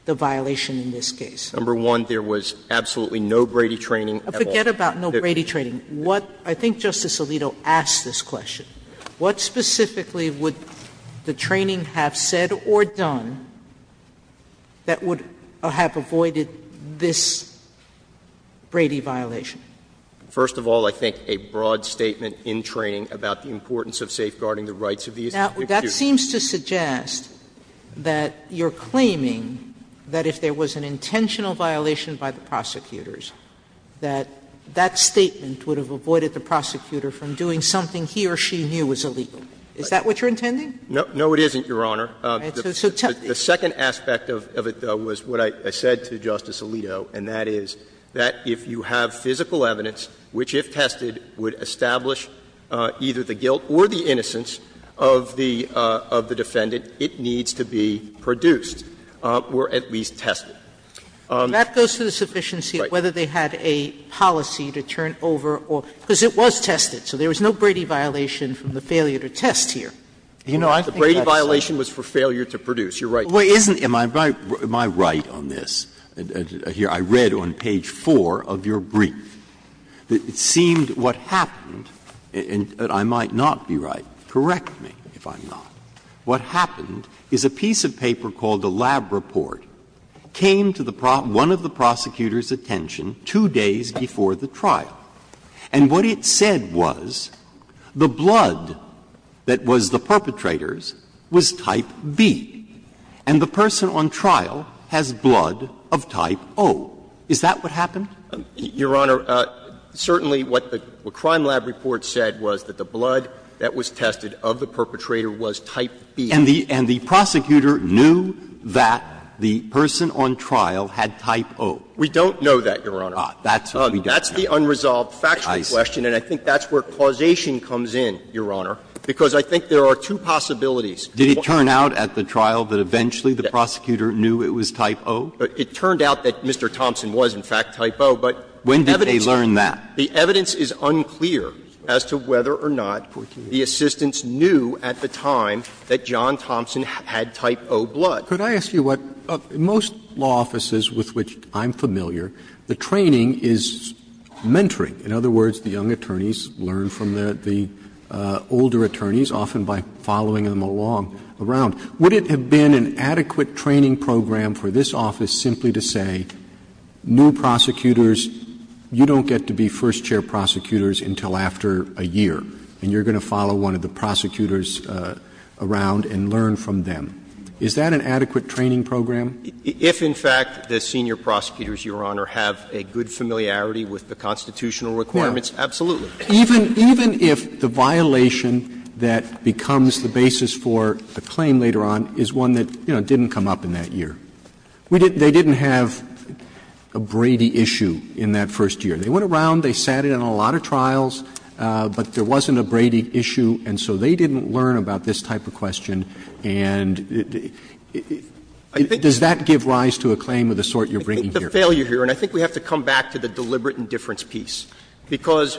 the violation in this case? Number one, there was absolutely no Brady training at all. Forget about no Brady training. What — I think Justice Alito asked this question. What specifically would the training have said or done that would have avoided this Brady violation? First of all, I think a broad statement in training about the importance of safeguarding the rights of these prosecutors. Now, that seems to suggest that you're claiming that if there was an intentional violation by the prosecutors, that that statement would have avoided the prosecutor from doing something he or she knew was illegal. Is that what you're intending? No. No, it isn't, Your Honor. The second aspect of it, though, was what I said to Justice Alito, and that is, that if you have physical evidence which, if tested, would establish either the guilt or the innocence of the defendant, it needs to be produced or at least tested. That goes to the sufficiency of whether they had a policy to turn over or — because it was tested. So there was no Brady violation from the failure to test here. You know, I think that's the case. The Brady violation was for failure to produce. You're right. Well, isn't — am I right on this here? I read on page 4 of your brief that it seemed what happened — and I might not be right. Correct me if I'm not. What happened is a piece of paper called the Lab Report came to the — one of the prosecutors' attention two days before the trial. And what it said was the blood that was the perpetrator's was type B, and the person on trial has blood of type O. Is that what happened? Your Honor, certainly what the Crime Lab Report said was that the blood that was tested of the perpetrator was type B. And the prosecutor knew that the person on trial had type O. We don't know that, Your Honor. That's what we don't know. That's the unresolved factual question, and I think that's where causation comes in, Your Honor, because I think there are two possibilities. Did it turn out at the trial that eventually the prosecutor knew it was type O? It turned out that Mr. Thompson was, in fact, type O, but the evidence is unclear as to whether or not the assistants knew at the time that John Thompson had type O blood. Could I ask you what — in most law offices with which I'm familiar, the training is mentoring. In other words, the young attorneys learn from the older attorneys, often by following them along, around. Would it have been an adequate training program for this office simply to say, new prosecutors, you don't get to be first chair prosecutors until after a year, and you're going to follow one of the prosecutors around and learn from them? Is that an adequate training program? If, in fact, the senior prosecutors, Your Honor, have a good familiarity with the constitutional requirements, absolutely. Roberts Even if the violation that becomes the basis for a claim later on is one that, you know, didn't come up in that year. They didn't have a Brady issue in that first year. They went around, they sat in on a lot of trials, but there wasn't a Brady issue, and so they didn't learn about this type of question. And does that give rise to a claim of the sort you're bringing here? I think the failure here, and I think we have to come back to the deliberate indifference piece, because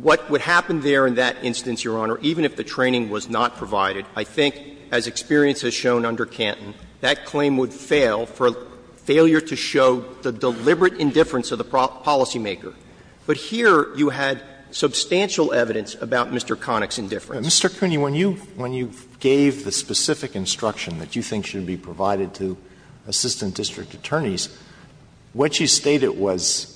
what would happen there in that instance, Your Honor, even if the training was not provided, I think, as experience has shown under Canton, that claim would fail for failure to show the deliberate indifference of the policymaker. But here you had substantial evidence about Mr. Connick's indifference. Alito Mr. Cooney, when you gave the specific instruction that you think should be provided to assistant district attorneys, what you stated was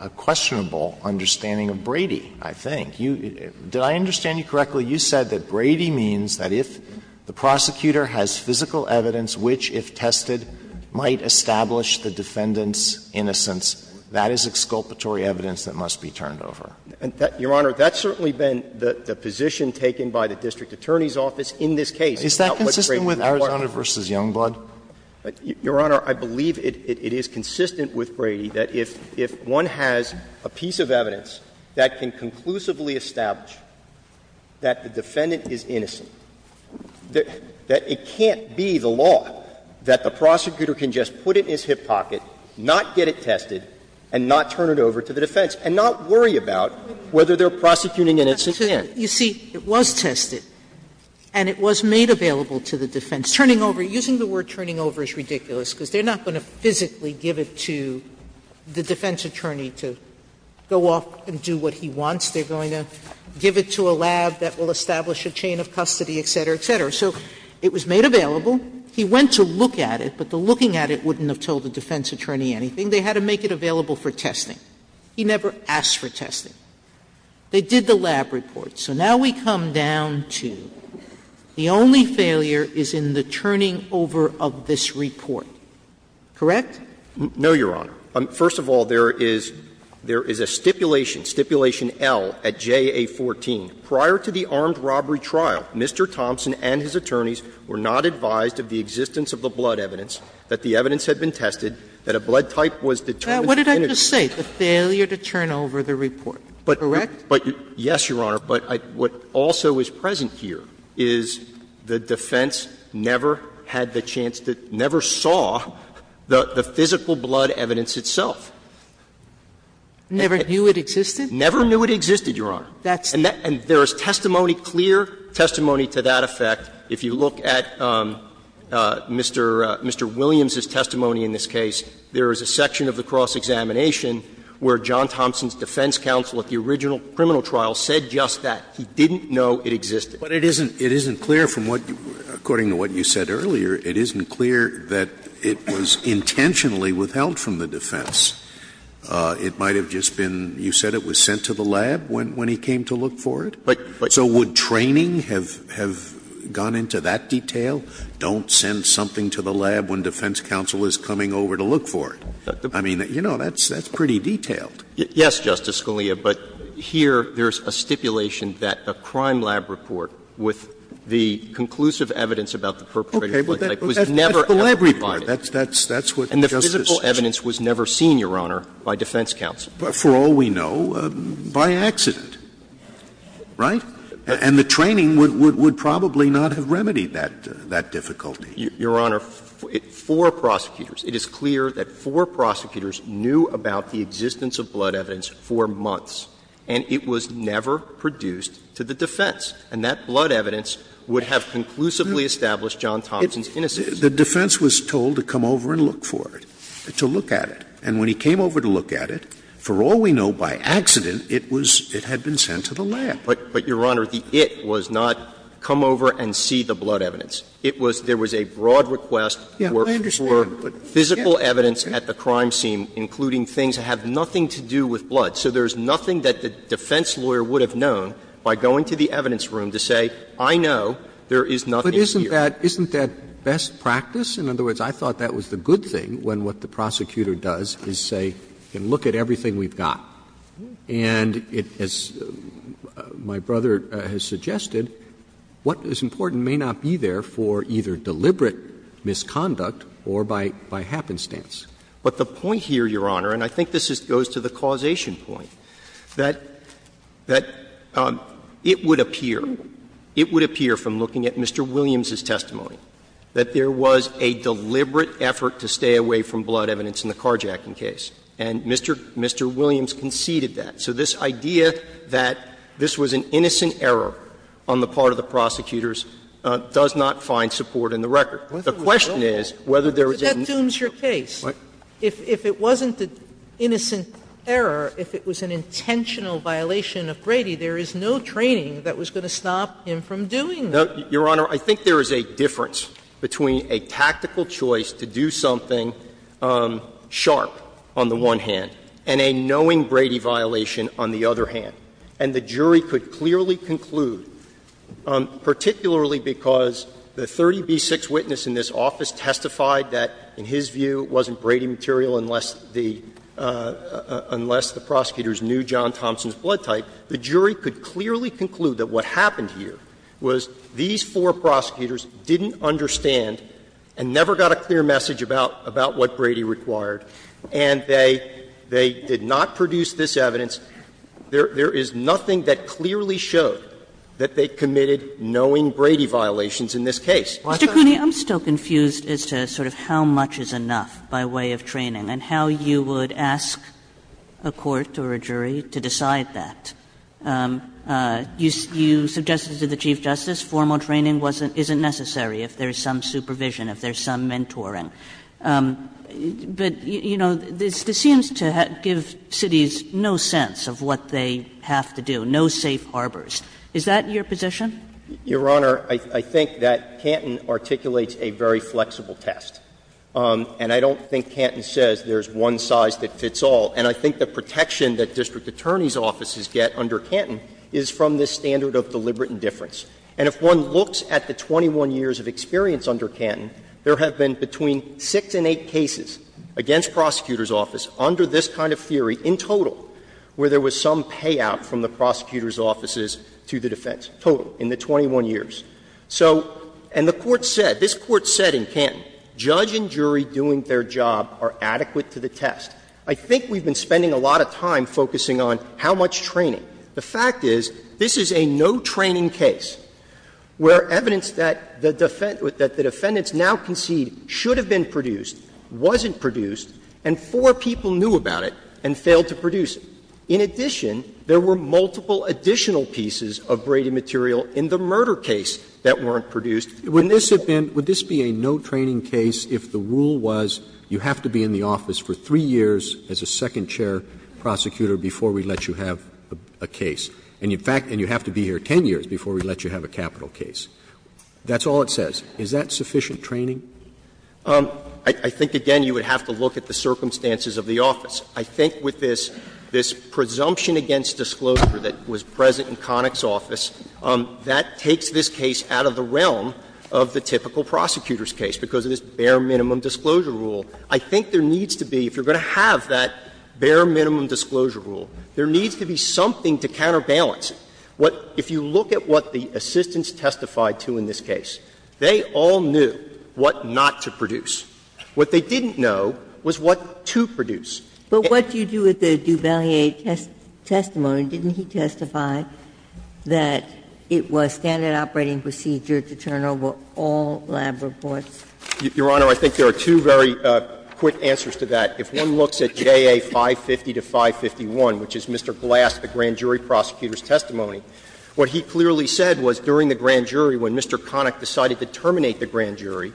a questionable understanding of Brady, I think. You — did I understand you correctly? You said that Brady means that if the prosecutor has physical evidence which, if tested, might establish the defendant's innocence, that is exculpatory evidence that must be turned over. Your Honor, that's certainly been the position taken by the district attorney's office in this case. Is that consistent with Arizona v. Youngblood? Your Honor, I believe it is consistent with Brady that if one has a piece of evidence that can conclusively establish that the defendant is innocent, that it can't be the law that the prosecutor can just put it in his hip pocket, not get it tested, and not turn it over to the defense, and not worry about whether they're prosecuting an innocent man. Sotomayor, you see, it was tested, and it was made available to the defense. Turning over — using the word turning over is ridiculous, because they're not going to physically give it to the defense attorney to go off and do what he wants. They're going to give it to a lab that will establish a chain of custody, et cetera, et cetera. So it was made available. He went to look at it, but the looking at it wouldn't have told the defense attorney anything. They had to make it available for testing. He never asked for testing. They did the lab report. So now we come down to the only failure is in the turning over of this report. Correct? No, Your Honor. First of all, there is a stipulation, Stipulation L at JA14. Prior to the armed robbery trial, Mr. Thompson and his attorneys were not advised of the existence of the blood evidence, that the evidence had been tested, that a blood type was determined to be innocent. Sotomayor, what did I just say? The failure to turn over the report, correct? Yes, Your Honor, but what also is present here is the defense never had the chance to — never saw the physical blood evidence itself. Never knew it existed? Never knew it existed, Your Honor. And there is testimony, clear testimony to that effect. If you look at Mr. Williams's testimony in this case, there is a section of the cross examination where John Thompson's defense counsel at the original criminal trial said just that. He didn't know it existed. But it isn't clear from what — according to what you said earlier, it isn't clear that it was intentionally withheld from the defense. It might have just been — you said it was sent to the lab when he came to look for it? But — but — So would training have gone into that detail? Don't send something to the lab when defense counsel is coming over to look for it. I mean, you know, that's pretty detailed. Yes, Justice Scalia, but here there is a stipulation that a crime lab report with the conclusive evidence about the perpetrator's blood type was never ever provided. Okay. But that's the lab report. That's what Justice — And the physical evidence was never seen, Your Honor, by defense counsel. For all we know, by accident, right? And the training would probably not have remedied that difficulty. Your Honor, four prosecutors, it is clear that four prosecutors knew about the existence of blood evidence for months, and it was never produced to the defense. And that blood evidence would have conclusively established John Thompson's innocence. The defense was told to come over and look for it, to look at it. And when he came over to look at it, for all we know, by accident, it was — it had been sent to the lab. But, Your Honor, the it was not come over and see the blood evidence. It was — there was a broad request for physical evidence at the crime scene, including things that have nothing to do with blood. So there is nothing that the defense lawyer would have known by going to the evidence room to say, I know, there is nothing here. Roberts But isn't that — isn't that best practice? In other words, I thought that was the good thing, when what the prosecutor does is say, and look at everything we've got. And it — as my brother has suggested, what is important may not be there for either deliberate misconduct or by — by happenstance. Verrilli, But the point here, Your Honor, and I think this goes to the causation point, that — that it would appear, it would appear from looking at Mr. Williams' testimony, that there was a deliberate effort to stay away from blood evidence in the carjacking case. And Mr. — Mr. Williams conceded that. So this idea that this was an innocent error on the part of the prosecutors does not find support in the record. The question is whether there was an— Sotomayor But that dooms your case. If it wasn't an innocent error, if it was an intentional violation of Brady, there is no training that was going to stop him from doing that. Verrilli, Your Honor, I think there is a difference between a tactical choice to do something sharp on the one hand and a knowing Brady violation on the other hand. And the jury could clearly conclude, particularly because the 30b6 witness in this office testified that, in his view, it wasn't Brady material unless the — unless the prosecutors knew John Thompson's blood type, the jury could clearly conclude that what happened here was these four prosecutors didn't understand and never got a clear message about what Brady required, and they did not produce this evidence. There is nothing that clearly showed that they committed knowing Brady violations in this case. Kagan Mr. Cooney, I'm still confused as to sort of how much is enough by way of training and how you would ask a court or a jury to decide that. You suggested to the Chief Justice formal training wasn't — isn't necessary if there is some supervision, if there is some mentoring. But, you know, this seems to give cities no sense of what they have to do, no safe harbors. Is that your position? Verrilli, Your Honor, I think that Canton articulates a very flexible test. And I don't think Canton says there is one size that fits all. And I think the protection that district attorneys' offices get under Canton is from this standard of deliberate indifference. And if one looks at the 21 years of experience under Canton, there have been between 6 and 8 cases against prosecutors' offices under this kind of theory in total where there was some payout from the prosecutors' offices to the defense, total, in the 21 years. So — and the Court said, this Court said in Canton, judge and jury doing their job are adequate to the test. I think we've been spending a lot of time focusing on how much training. The fact is, this is a no training case where evidence that the defendants now concede should have been produced wasn't produced, and four people knew about it and failed to produce it. In addition, there were multiple additional pieces of Brady material in the murder case that weren't produced. Roberts. Roberts. Would this have been — would this be a no training case if the rule was you have to be in the office for 3 years as a second chair prosecutor before we let you have a case, and you have to be here 10 years before we let you have a capital case? That's all it says. Is that sufficient training? I think, again, you would have to look at the circumstances of the office. I think with this presumption against disclosure that was present in Connick's office, that takes this case out of the realm of the typical prosecutor's case because of this bare minimum disclosure rule. I think there needs to be, if you're going to have that bare minimum disclosure rule, there needs to be something to counterbalance it. What — if you look at what the assistants testified to in this case, they all knew what not to produce. What they didn't know was what to produce. But what do you do with the Duvalier testimony? Didn't he testify that it was standard operating procedure to turn over all lab reports? Your Honor, I think there are two very quick answers to that. If one looks at JA 550 to 551, which is Mr. Glass, the grand jury prosecutor's testimony, what he clearly said was during the grand jury when Mr. Connick decided to terminate the grand jury,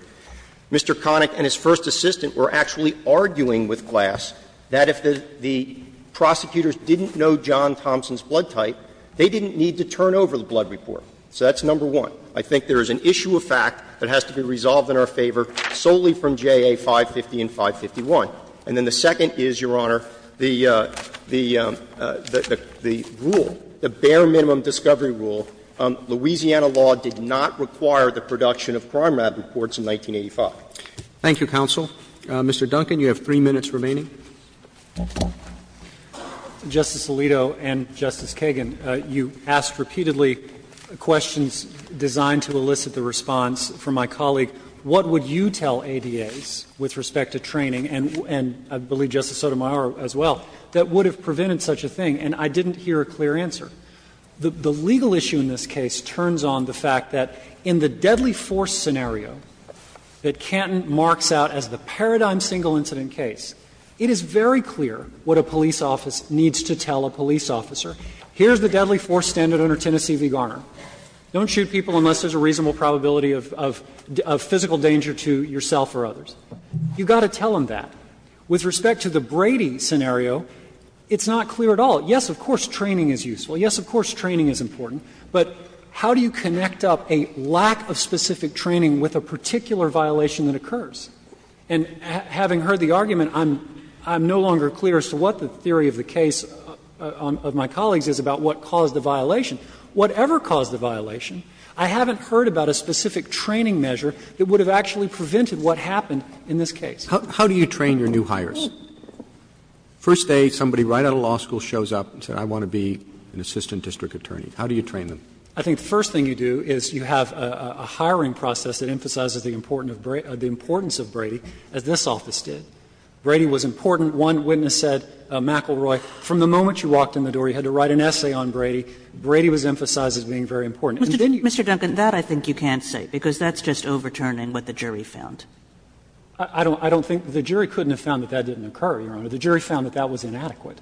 Mr. Connick and his first assistant were actually arguing with Glass that if the prosecutors didn't know John Thompson's blood type, they didn't need to turn over the blood report. So that's number one. I think there is an issue of fact that has to be resolved in our favor solely from JA 550 and 551. And then the second is, Your Honor, the rule, the bare minimum discovery rule. Louisiana law did not require the production of crime lab reports in 1985. Roberts. Thank you, counsel. Mr. Duncan, you have three minutes remaining. Justice Alito and Justice Kagan, you asked repeatedly questions. I'm going to ask you a question that is designed to elicit the response from my colleague, what would you tell ADAs with respect to training, and I believe Justice Sotomayor as well, that would have prevented such a thing, and I didn't hear a clear answer. The legal issue in this case turns on the fact that in the deadly force scenario that Canton marks out as the paradigm single incident case, it is very clear what a police office needs to tell a police officer. Here is the deadly force standard under Tennessee v. Garner. Don't shoot people unless there is a reasonable probability of physical danger to yourself or others. You've got to tell them that. With respect to the Brady scenario, it's not clear at all. Yes, of course, training is useful. Yes, of course, training is important. But how do you connect up a lack of specific training with a particular violation that occurs? And having heard the argument, I'm no longer clear as to what the theory of the case of my colleagues is about what caused the violation. Whatever caused the violation, I haven't heard about a specific training measure that would have actually prevented what happened in this case. How do you train your new hires? First day, somebody right out of law school shows up and says, I want to be an assistant district attorney. How do you train them? I think the first thing you do is you have a hiring process that emphasizes the importance of Brady, as this office did. Brady was important. One witness said, McElroy, from the moment you walked in the door, you had to write an essay on Brady. Brady was emphasized as being very important. And then you got to say, I want to be an assistant district attorney. Kagan. Mr. Duncan, that I think you can't say, because that's just overturning what the jury found. I don't think the jury couldn't have found that that didn't occur, Your Honor. The jury found that that was inadequate.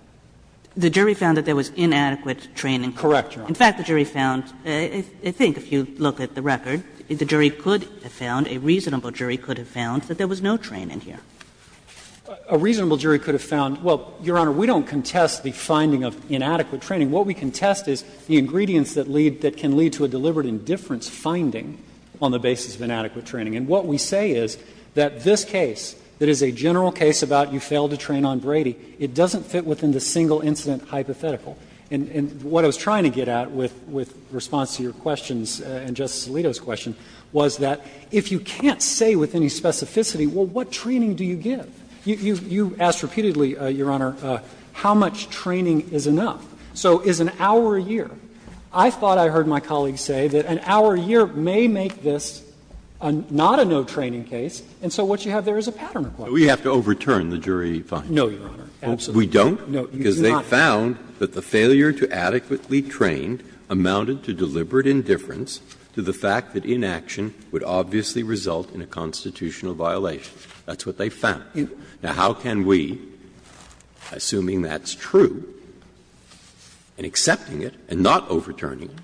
The jury found that there was inadequate training. Correct, Your Honor. In fact, the jury found, I think if you look at the record, the jury could have found, a reasonable jury could have found, that there was no training here. A reasonable jury could have found, well, Your Honor, we don't contest the finding of inadequate training. What we contest is the ingredients that lead, that can lead to a deliberate indifference finding on the basis of inadequate training. And what we say is that this case, that is a general case about you failed to train on Brady, it doesn't fit within the single incident hypothetical. And what I was trying to get at with response to your questions and Justice Alito's question was that if you can't say with any specificity, well, what training do you give? You asked repeatedly, Your Honor, how much training is enough. So is an hour a year. I thought I heard my colleague say that an hour a year may make this not a no training case, and so what you have there is a pattern of questions. Breyer. No, Your Honor, absolutely not. We don't, because they found that the failure to adequately train amounted to deliberate indifference to the fact that inaction would obviously result in a constitutional violation. That's what they found. Now, how can we, assuming that's true, and accepting it and not overturning it,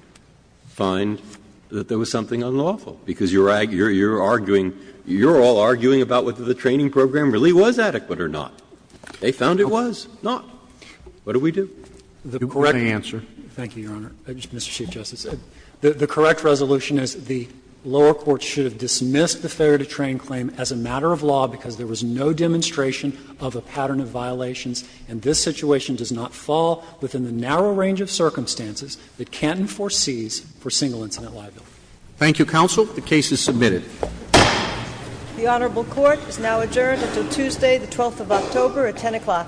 find that there was something unlawful? Because you're arguing, you're all arguing about whether the training program really was adequate or not. They found it was not. What do we do? You correct me? Thank you, Your Honor. Mr. Chief Justice, the correct resolution is the lower court should have dismissed the failure to train claim as a matter of law because there was no demonstration of a pattern of violations, and this situation does not fall within the narrow range of circumstances that Canton foresees for single incident liability. Thank you, counsel. The case is submitted. The honorable court is now adjourned until Tuesday, the 12th of October at 10 o'clock.